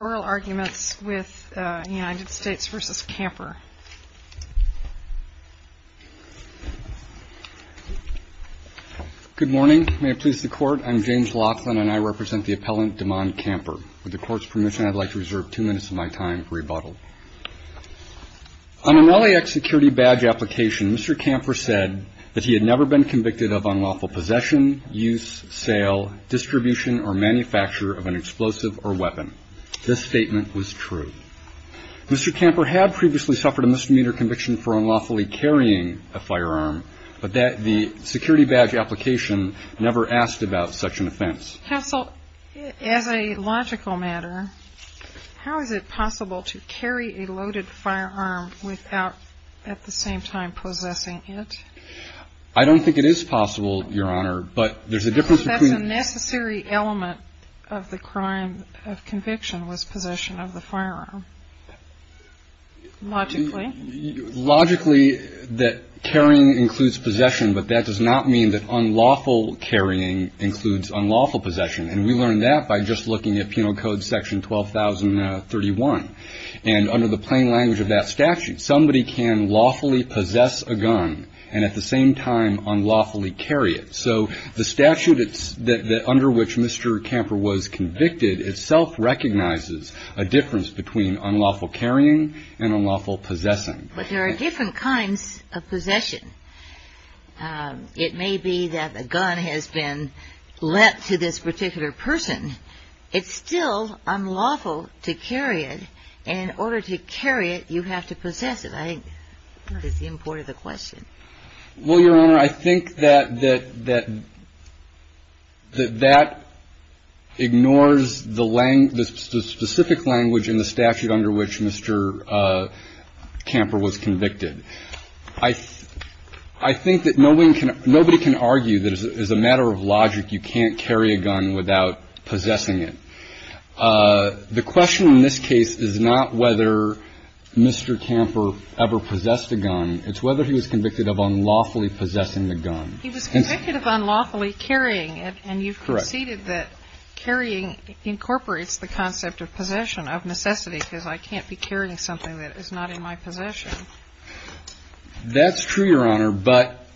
Good morning. May it please the Court, I'm James Laughlin and I represent the appellant DeMond Camper. With the Court's permission, I'd like to reserve two minutes of my time for rebuttal. On an LAX security badge application, Mr. Camper said that he had never been convicted of unlawful possession, use, sale, distribution or manufacture of an explosive or weapon. This statement was true. Mr. Camper had previously suffered a misdemeanor conviction for unlawfully carrying a firearm, but the security badge application never asked about such an offense. Counsel, as a logical matter, how is it possible to carry a loaded firearm without at the same time possessing it? I don't think it is possible, Your Honor, but there's a difference between unlawful possession and unlawful possession. The necessary element of the crime of conviction was possession of the firearm. Logically. Logically, that carrying includes possession, but that does not mean that unlawful carrying includes unlawful possession. And we learned that by just looking at Penal Code Section 12,031. And under the plain language of that statute, somebody can lawfully possess a gun and at the same time unlawfully carry it. So the statute under which Mr. Camper was convicted itself recognizes a difference between unlawful carrying and unlawful possessing. But there are different kinds of possession. It may be that a gun has been lent to this particular person. It's still unlawful to carry it. And in order to carry it, you have to possess it. I think that's the import of the question. Well, Your Honor, I think that that ignores the specific language in the statute under which Mr. Camper was convicted. I think that nobody can argue that as a matter of logic, you can't carry a gun without possessing it. The question in this case is not whether Mr. Camper ever possessed a gun. It's whether he was convicted of unlawfully possessing the gun. He was convicted of unlawfully carrying it. And you've conceded that carrying incorporates the concept of possession, of necessity, because I can't be carrying something that is not in my possession. That's true, Your Honor. But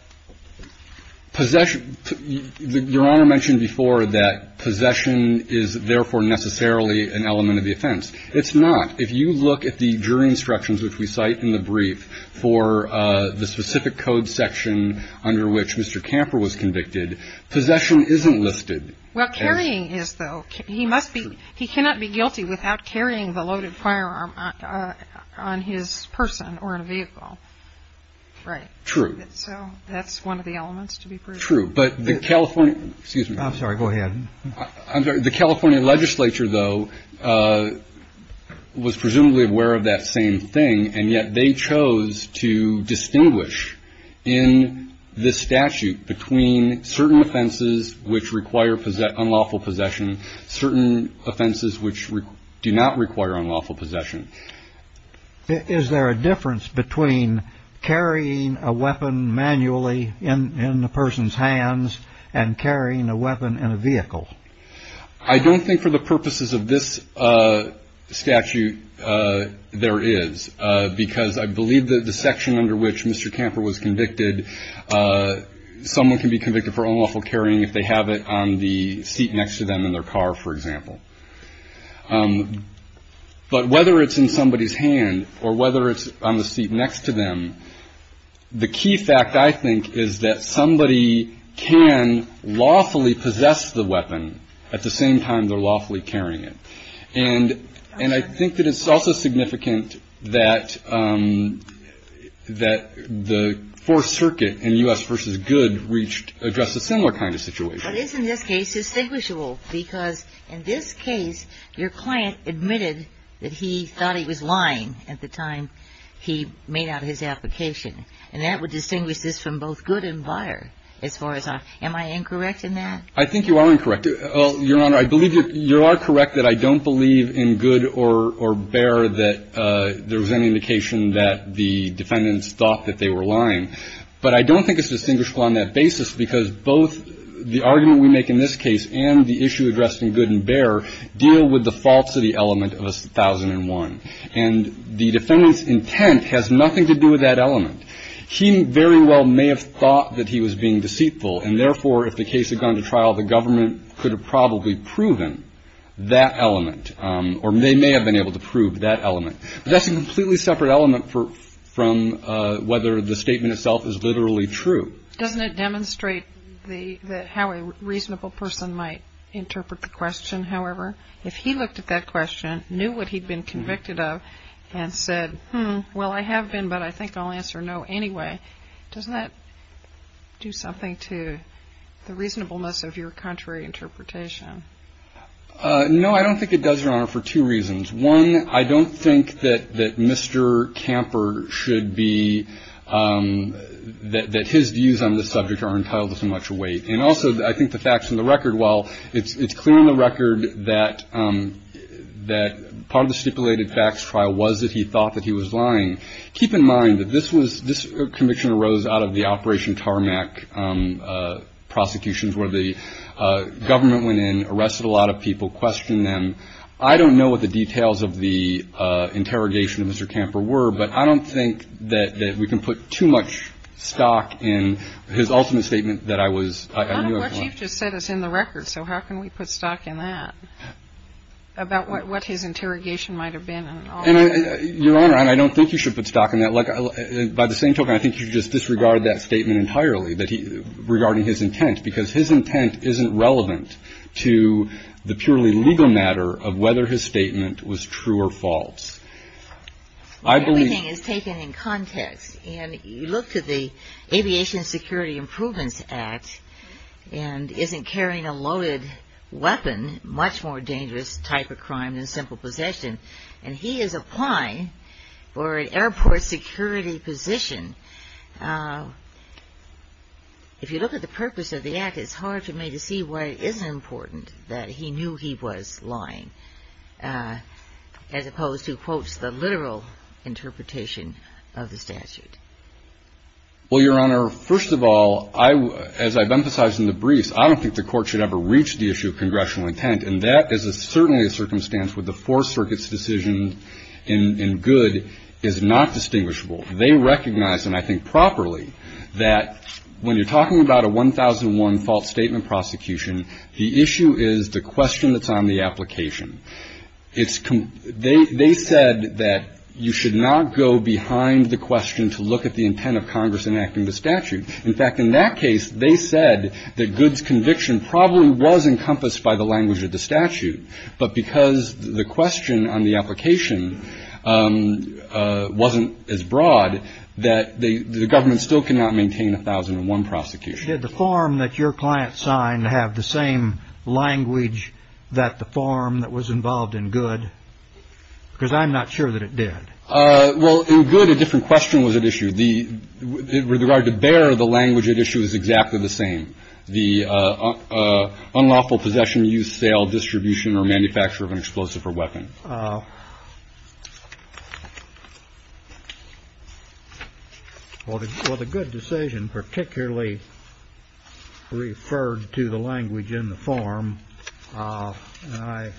possession – Your Honor mentioned before that possession is therefore necessarily an element of the offense. It's not. If you look at the jury instructions which we cite in the brief for the specific code section under which Mr. Camper was convicted, possession isn't listed. Well, carrying is, though. He must be – he cannot be guilty without carrying the loaded firearm on his person or in a vehicle, right? True. So that's one of the elements to be proved. True. But the California – excuse me. I'm sorry. Go ahead. I'm sorry. The California legislature, though, was presumably aware of that same thing, and yet they chose to distinguish in this statute between certain offenses which require unlawful possession, certain offenses which do not require unlawful possession. Is there a difference between carrying a weapon manually in the person's hands and carrying a weapon in a vehicle? I don't think for the purposes of this statute there is, because I believe that the section under which Mr. Camper was convicted, someone can be convicted for unlawful carrying if they have it on the seat next to them in their car, for example. But whether it's in somebody's hand or whether it's on the seat next to them, the key fact, I think, is that somebody can lawfully possess the weapon at the same time they're lawfully carrying it. And I think that it's also significant that the Fourth Circuit in U.S. v. Goode reached – addressed a similar kind of situation. But isn't this case distinguishable? Because in this case, your client admitted that he thought he was lying at the time he made out his application. And that would distinguish this from both Goode and Beyer as far as I'm – am I incorrect in that? I think you are incorrect, Your Honor. I believe you are correct that I don't believe in Goode or Beyer that there was any indication that the defendants thought that they were lying. But I don't think it's distinguishable on that basis because both the argument we make in this case and the issue addressed in Goode and Beyer deal with the falsity element of 1001. And the defendant's intent has nothing to do with that element. He very well may have thought that he was being deceitful. And therefore, if the case had gone to trial, the government could have probably proven that element or they may have been able to prove that element. But that's a completely separate element from whether the statement itself is literally true. Doesn't it demonstrate the – how a reasonable person might interpret the question, however? If he looked at that question, knew what he'd been convicted of, and said, hmm, well, I have been, but I think I'll answer no anyway. Doesn't that do something to the reasonableness of your contrary interpretation? No, I don't think it does, Your Honor, for two reasons. One, I don't think that Mr. Camper should be – that his views on this subject are entitled to so much weight. And also, I think the facts on the record, while it's clear on the record that part of the stipulated facts trial was that he thought that he was lying, keep in mind that this conviction arose out of the Operation Tarmac prosecutions where the government went in, arrested a lot of people, questioned them. I don't know what the details of the interrogation of Mr. Camper were, but I don't think that we can put too much stock in his ultimate statement that I was – I knew I was lying. But you've just said it's in the record, so how can we put stock in that, about what his interrogation might have been and all that? Your Honor, I don't think you should put stock in that. Like, by the same token, I think you should just disregard that statement entirely, regarding his intent, because his intent isn't relevant to the purely legal matter of whether his statement was true or false. Everything is taken in context. And you look to the Aviation Security Improvements Act and isn't carrying a loaded weapon, much more dangerous type of crime than simple possession. And he is applying for an airport security position. If you look at the purpose of the act, it's hard for me to see why it isn't important that he knew he was lying, as opposed to, quote, the literal interpretation of the statute. Well, Your Honor, first of all, as I've emphasized in the briefs, I don't think the Court should ever reach the issue of congressional intent. And that is certainly a circumstance where the Four Circuit's decision in good is not distinguishable. They recognize, and I think properly, that when you're talking about a 1001 false statement prosecution, the issue is the question that's on the application. They said that you should not go behind the question to look at the intent of Congress enacting the statute. In fact, in that case, they said that good's conviction probably was encompassed by the language of the statute. But because the question on the application wasn't as broad, that the government still cannot maintain a 1001 prosecution. Did the form that your client signed have the same language that the form that was involved in good? Because I'm not sure that it did. Well, in good, a different question was at issue. With regard to bear, the language at issue is exactly the same. The unlawful possession, use, sale, distribution or manufacture of an explosive or weapon. Well, the good decision particularly referred to the language in the form. I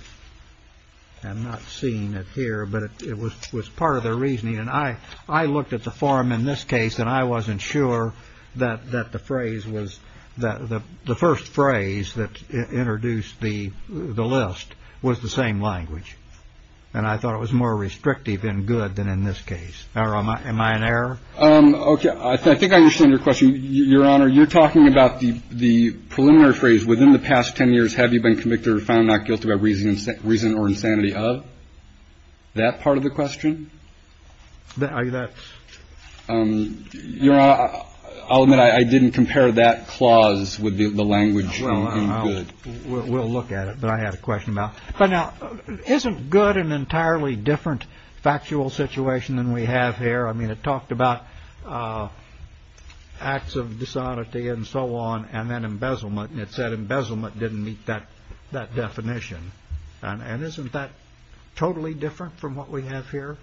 am not seeing it here, but it was part of their reasoning. And I I looked at the form in this case and I wasn't sure that that the phrase was that the first phrase that introduced the list was the same language. And I thought it was more restrictive in good than in this case. Now, am I in error? OK, I think I understand your question. Your Honor, you're talking about the the preliminary phrase within the past 10 years. Have you been convicted or found not guilty by reason, reason or insanity of that part of the question? That's your. I'll admit I didn't compare that clause with the language. We'll look at it. But I have a question about. But now isn't good an entirely different factual situation than we have here. I mean, it talked about acts of dishonesty and so on. And then embezzlement. And it said embezzlement didn't meet that that definition. And isn't that totally different from what we have here?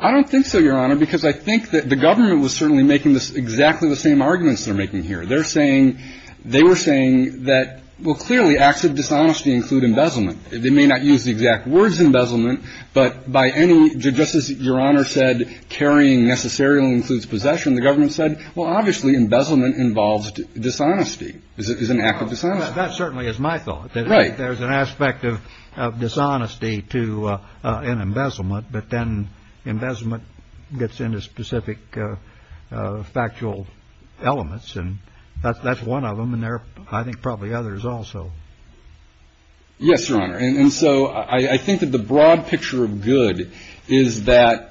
I don't think so, Your Honor, because I think that the government was certainly making this exactly the same arguments they're making here. They're saying they were saying that, well, clearly acts of dishonesty include embezzlement. They may not use the exact words embezzlement, but by any justice, Your Honor said carrying necessarily includes possession. The government said, well, obviously embezzlement involves dishonesty is an act of dishonesty. That certainly is my thought. Right. There's an aspect of dishonesty to an embezzlement. But then embezzlement gets into specific factual elements. And that's one of them. And there are, I think, probably others also. Yes, Your Honor. And so I think that the broad picture of good is that.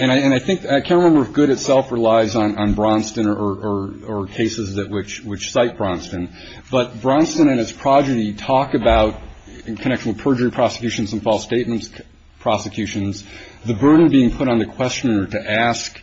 And I think I can't remember if good itself relies on on Braunston or or cases that which which cite Braunston. But Braunston and his progeny talk about connection with perjury prosecutions and false statements prosecutions. The burden being put on the questioner to ask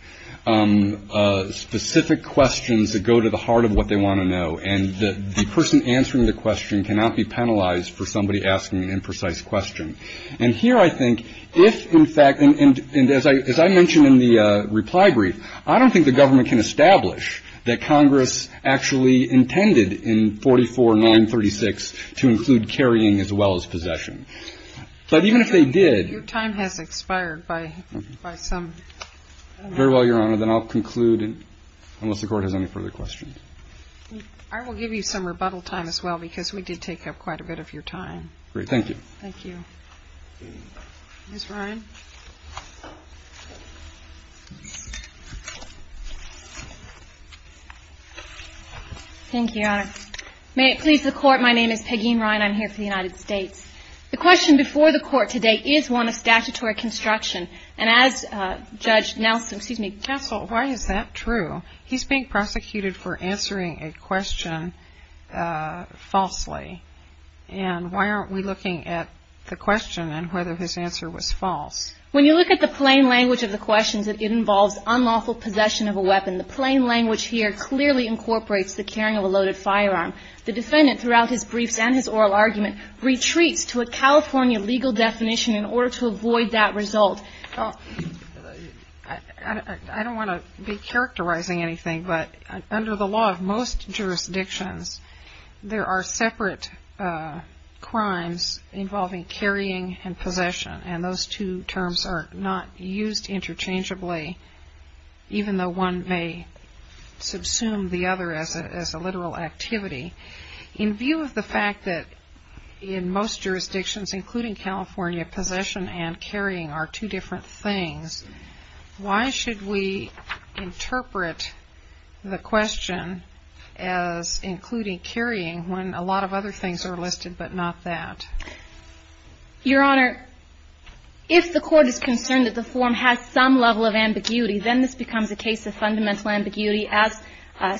specific questions that go to the heart of what they want to know. And the person answering the question cannot be penalized for somebody asking an imprecise question. And here, I think, if in fact, and as I as I mentioned in the reply brief, I don't think the government can establish that Congress actually intended in 44, 936 to include carrying as well as possession. But even if they did. Your time has expired by some. Very well, Your Honor. Then I'll conclude unless the court has any further questions. I will give you some rebuttal time as well, because we did take up quite a bit of your time. Thank you. Thank you. Thank you, Your Honor. May it please the court. My name is Peggy Ryan. I'm here for the United States. The question before the court today is one of statutory construction. And as Judge Nelson, excuse me, Castle, why is that true? He's being prosecuted for answering a question falsely. And why aren't we looking at the question and whether his answer was false? When you look at the plain language of the questions, it involves unlawful possession of a weapon. The plain language here clearly incorporates the carrying of a loaded firearm. The defendant, throughout his briefs and his oral argument, retreats to a California legal definition in order to avoid that result. I don't want to be characterizing anything, but under the law of most jurisdictions, there are separate crimes involving carrying and possession. And those two terms are not used interchangeably, even though one may subsume the other as a literal activity. In view of the fact that in most jurisdictions, including California, possession and carrying are two different things, why should we interpret the question as including carrying when a lot of other things are listed but not that? Your Honor, if the court is concerned that the form has some level of ambiguity, then this becomes a case of fundamental ambiguity as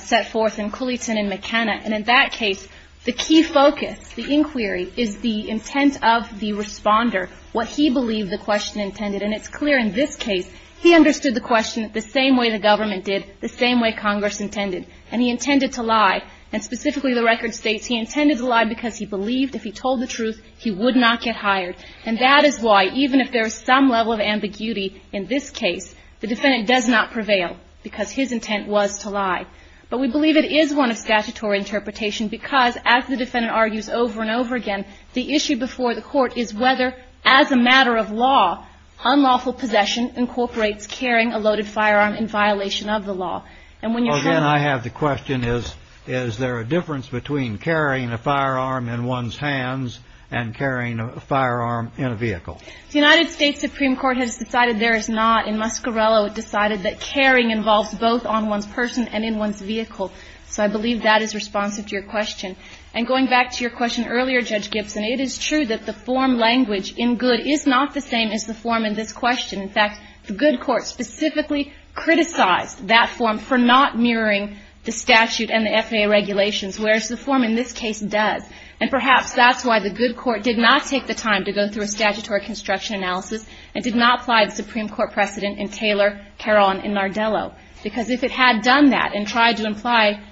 set forth in Cooleyton and McKenna. And in that case, the key focus, the inquiry, is the intent of the responder, what he believed the question intended. And it's clear in this case, he understood the question the same way the government did, the same way Congress intended. And he intended to lie. And specifically, the record states, he intended to lie because he believed if he told the truth, he would not get hired. And that is why, even if there is some level of ambiguity in this case, the defendant does not prevail because his intent was to lie. But we believe it is one of statutory interpretation because, as the defendant argues over and over again, the issue before the court is whether, as a matter of law, unlawful possession incorporates carrying a loaded firearm in violation of the law. And when you have... Well, then I have the question, is there a difference between carrying a firearm in one's hands and carrying a firearm in a vehicle? The United States Supreme Court has decided there is not. In Muscarello, it decided that carrying involves both on one's person and in one's vehicle. So I believe that is responsive to your question. And going back to your question earlier, Judge Gibson, it is true that the form language in Goode is not the same as the form in this question. In fact, the Goode court specifically criticized that form for not mirroring the statute and the FAA regulations, whereas the form in this case does. And perhaps that's why the Goode court did not take the time to go through a statutory construction analysis and did not apply the Supreme Court precedent in Taylor, Caron, and Nardello. Because if it had done that and tried to apply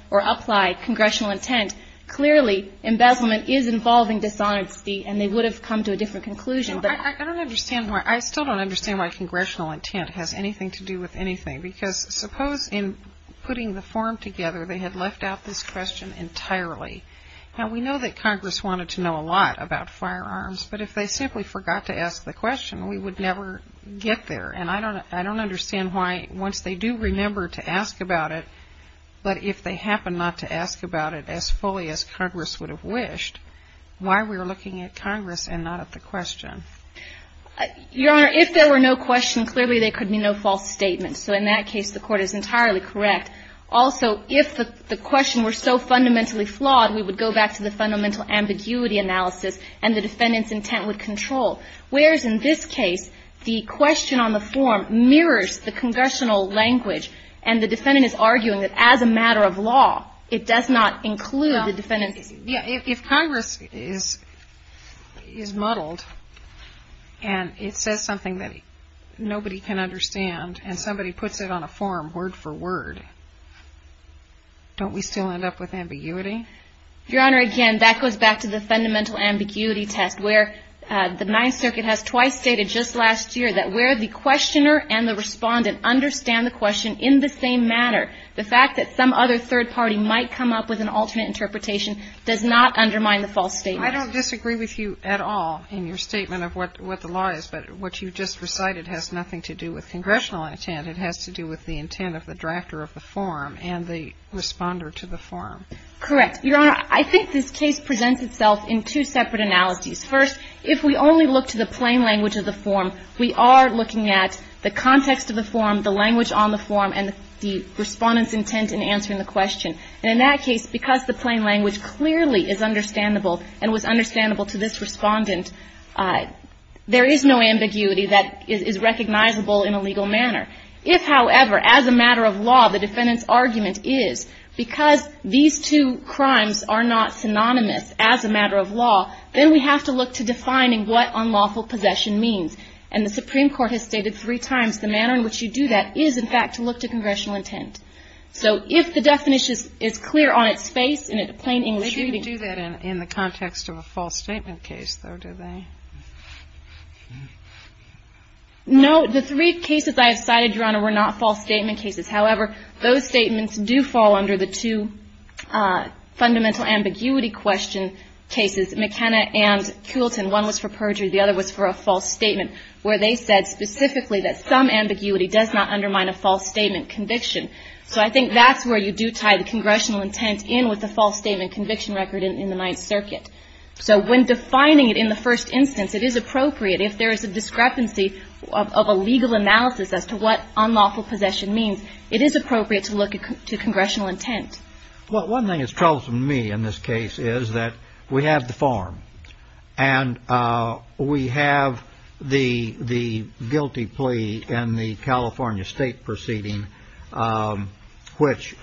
congressional intent, clearly embezzlement is involving dishonesty and they would have come to a different conclusion. I still don't understand why congressional intent has anything to do with anything. Because suppose in putting the form together, they had left out this question entirely. Now, we know that Congress wanted to know a lot about firearms. But if they simply forgot to ask the question, we would never get there. And I don't understand why once they do remember to ask about it, but if they happen not to ask about it as fully as Congress would have wished, why we're looking at Congress and not at the question. Your Honor, if there were no question, clearly there could be no false statement. So in that case, the court is entirely correct. Also, if the question were so fundamentally flawed, we would go back to the fundamental ambiguity analysis and the defendant's intent would control. Whereas in this case, the question on the form mirrors the congressional language and the defendant is arguing that as a matter of law, it does not include the defendant's intent. If Congress is muddled and it says something that nobody can understand and somebody puts it on a form word for word, don't we still end up with ambiguity? Your Honor, again, that goes back to the fundamental ambiguity test where the Ninth Circuit has twice stated just last year that where the questioner and the respondent understand the question in the same matter, the fact that some other third party might come up with an alternate interpretation does not undermine the false statement. I don't disagree with you at all in your statement of what the law is, but what you just recited has nothing to do with congressional intent. It has to do with the intent of the drafter of the form and the responder to the form. Correct. Your Honor, I think this case presents itself in two separate analogies. First, if we only look to the plain language of the form, we are looking at the context of the form, the language on the form, and the respondent's intent in answering the question. And in that case, because the plain language clearly is understandable and was understandable to this respondent, there is no ambiguity that is recognizable in a legal manner. If, however, as a matter of law, the defendant's argument is because these two crimes are not synonymous as a matter of law, then we have to look to defining what unlawful possession means. And the Supreme Court has stated three times the manner in which you do that is, in fact, to look to congressional intent. So if the definition is clear on its face in a plain English reading They don't do that in the context of a false statement case, though, do they? No. The three cases I have cited, Your Honor, were not false statement cases. However, those statements do fall under the two fundamental ambiguity question cases, McKenna and Coulton. One was for perjury, the other was for a false statement, where they said specifically that some ambiguity does not undermine a false statement conviction. So I think that's where you do tie the congressional intent in with the false statement conviction record in the Ninth Circuit. So when defining it in the first instance, it is appropriate. If there is a discrepancy of a legal analysis as to what unlawful possession means, it is appropriate to look to congressional intent. Well, one thing that's troublesome to me in this case is that we have the form, and we have the guilty plea in the California state proceeding, which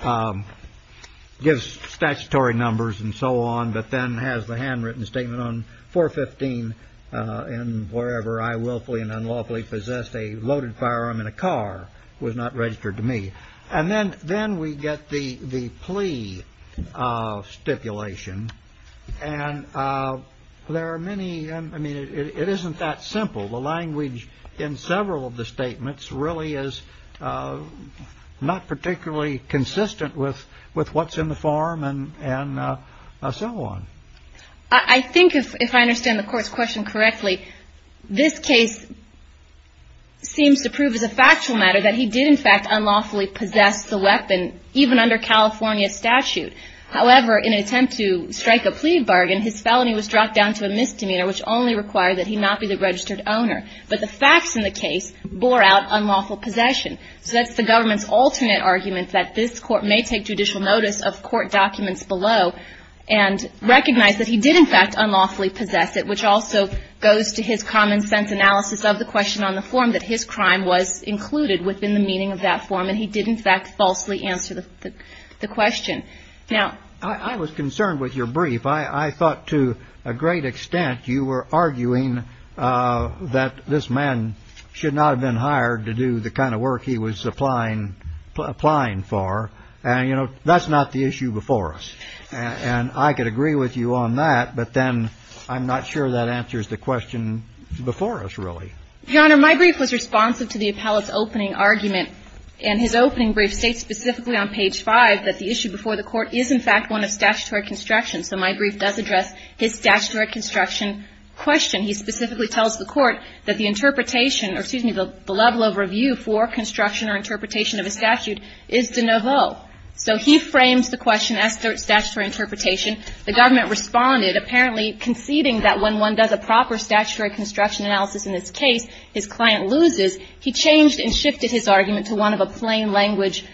gives statutory numbers and so on, but then has the handwritten statement on 415 in wherever I willfully and unlawfully possessed a loaded firearm in a car was not registered to me. And then we get the plea stipulation, and there are many... I mean, it isn't that simple. The language in several of the statements really is not particularly consistent with what's in the form and so on. I think, if I understand the Court's question correctly, this case seems to prove as a factual matter that he did, in fact, unlawfully possess the weapon even under California statute. However, in an attempt to strike a plea bargain, his felony was dropped down to a misdemeanor, which only required that he not be the registered owner. But the facts in the case bore out unlawful possession. So that's the government's alternate argument that this Court may take judicial notice of court documents below and recognize that he did, in fact, unlawfully possess it, which also goes to his common-sense analysis of the question on the form that his crime was included within the meaning of that form. And he did, in fact, falsely answer the question. Now... I was concerned with your brief. I thought, to a great extent, you were arguing that this man should not have been hired to do the kind of work he was applying for. And, you know, that's not the issue before us. And I could agree with you on that, but then I'm not sure that answers the question before us, really. Your Honor, my brief was responsive to the appellate's opening argument. And his opening brief states specifically on page 5 that the issue before the Court is, in fact, one of statutory construction. So my brief does address his statutory construction question. He specifically tells the Court that the interpretation, or, excuse me, the level of review for construction or interpretation of a statute is de nouveau. So he frames the question as statutory interpretation. The government responded, apparently conceding that when one does a proper statutory construction analysis in this case, his client loses, he changed and shifted his argument to one of a plain language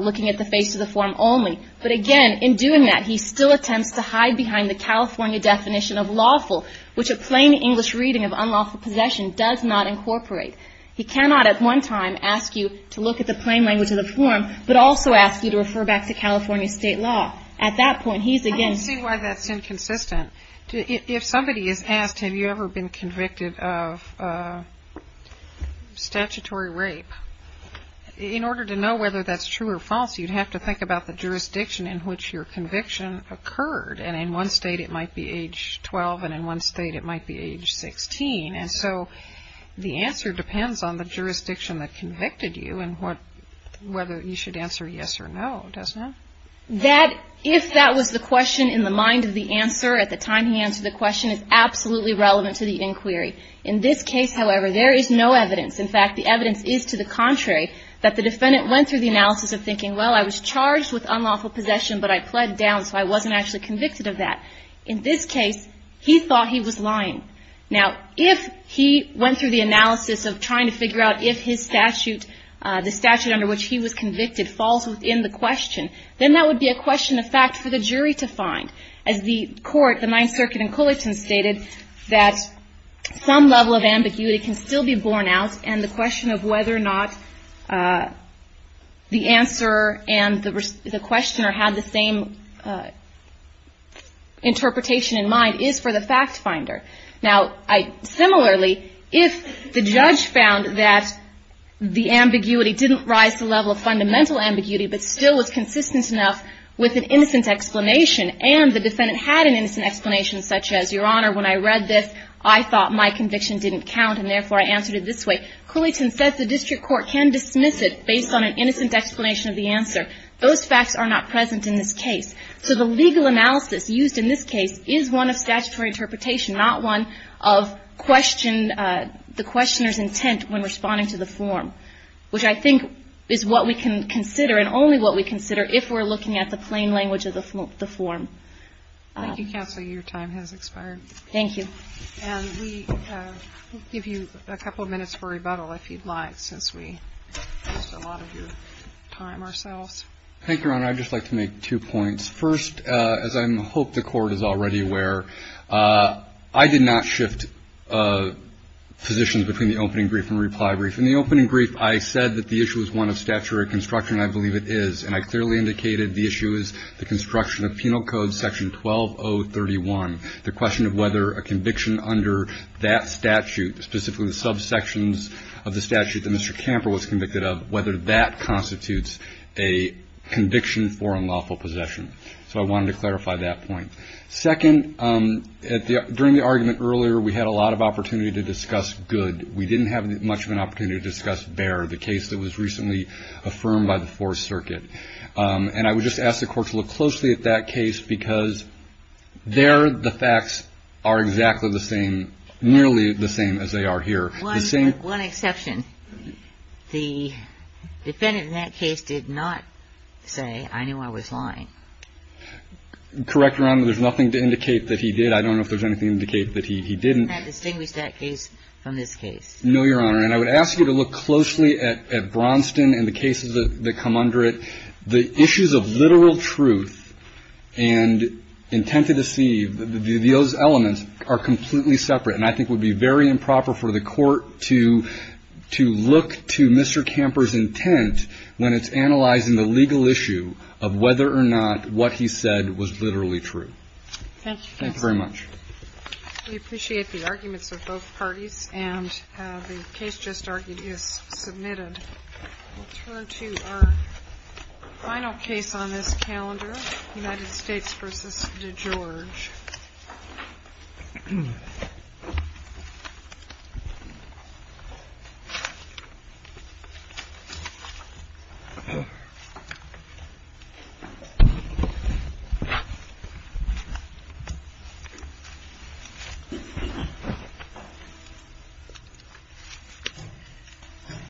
looking at the face of the form only. But again, in doing that, he still attempts to hide behind the California definition of lawful, which a plain English reading of unlawful possession does not incorporate. He cannot at one time ask you to look at the plain language of the form but also ask you to refer back to California state law. At that point, he's against... I don't see why that's inconsistent. If somebody is asked, have you ever been convicted of statutory rape? In order to know whether that's true or false, you'd have to think about the jurisdiction in which your conviction occurred. And in one state it might be age 12 and in one state it might be age 16. And so the answer depends on the jurisdiction that convicted you and whether you should answer yes or no. If that was the question in the mind of the answer at the time he answered the question, it's absolutely relevant to the inquiry. In this case, however, there is no evidence. In fact, the evidence is to the contrary that the defendant went through the analysis of thinking, well, I was charged with unlawful possession but I pled down so I wasn't actually convicted of that. In this case, he thought he was lying. Now, if he went through the analysis of trying to figure out if the statute under which he was convicted falls within the question, then that would be a question of fact for the jury to find. As the court, the Ninth Circuit and Culleton stated that some level of ambiguity can still be borne out and the question of whether or not the answerer and the questioner had the same interpretation in mind is for the fact finder. Similarly, if the judge found that the ambiguity didn't rise to the level of fundamental ambiguity but still was consistent enough with an innocent explanation and the defendant had an innocent explanation such as, Your Honor, when I read this, I thought my conviction didn't count and therefore I answered it this way. Culleton said the district court can dismiss it based on an innocent explanation of the answer. Those facts are not present in this case. So the legal analysis used in this case is one of statutory interpretation, not one of the questioner's form, which I think is what we can consider and only what we consider if we're looking at the plain language of the form. Thank you, Counselor. Your time has expired. Thank you. We'll give you a couple of minutes for rebuttal if you'd like since we used a lot of your time ourselves. Thank you, Your Honor. I'd just like to make two points. First, as I hope the court is already aware, I did not shift positions between the opening brief and reply brief. In the opening brief, I said that the issue is one of statutory construction and I believe it is. And I clearly indicated the issue is the construction of Penal Code Section 12031. The question of whether a conviction under that statute, specifically the subsections of the statute that Mr. Camper was convicted of, whether that constitutes a conviction for unlawful possession. So I wanted to clarify that point. Second, during the argument earlier, we had a lot of opportunity to discuss good. We didn't have much of an opportunity to discuss bare, the case that was recently affirmed by the Fourth Circuit. And I would just ask the court to look closely at that case because there, the facts are exactly the same, nearly the same as they are here. One exception. The defendant in that case did not say, I knew I was lying. Correct, Your Honor. There's nothing to indicate that he did. I don't know if there's anything to indicate that he didn't. Can that distinguish that case from this case? No, Your Honor. And I would ask you to look closely at Braunston and the cases that come under it. The issues of literal truth and intent to deceive, those elements are completely separate. And I think it would be very improper for the court to look to Mr. Camper's intent when it's analyzing the legal issue of whether or not what he said was literally true. Thank you, counsel. Thank you very much. We appreciate the arguments of both parties. And the case just argued is submitted. We'll turn to our final case on this calendar, United States v. DeGeorge. Thank you.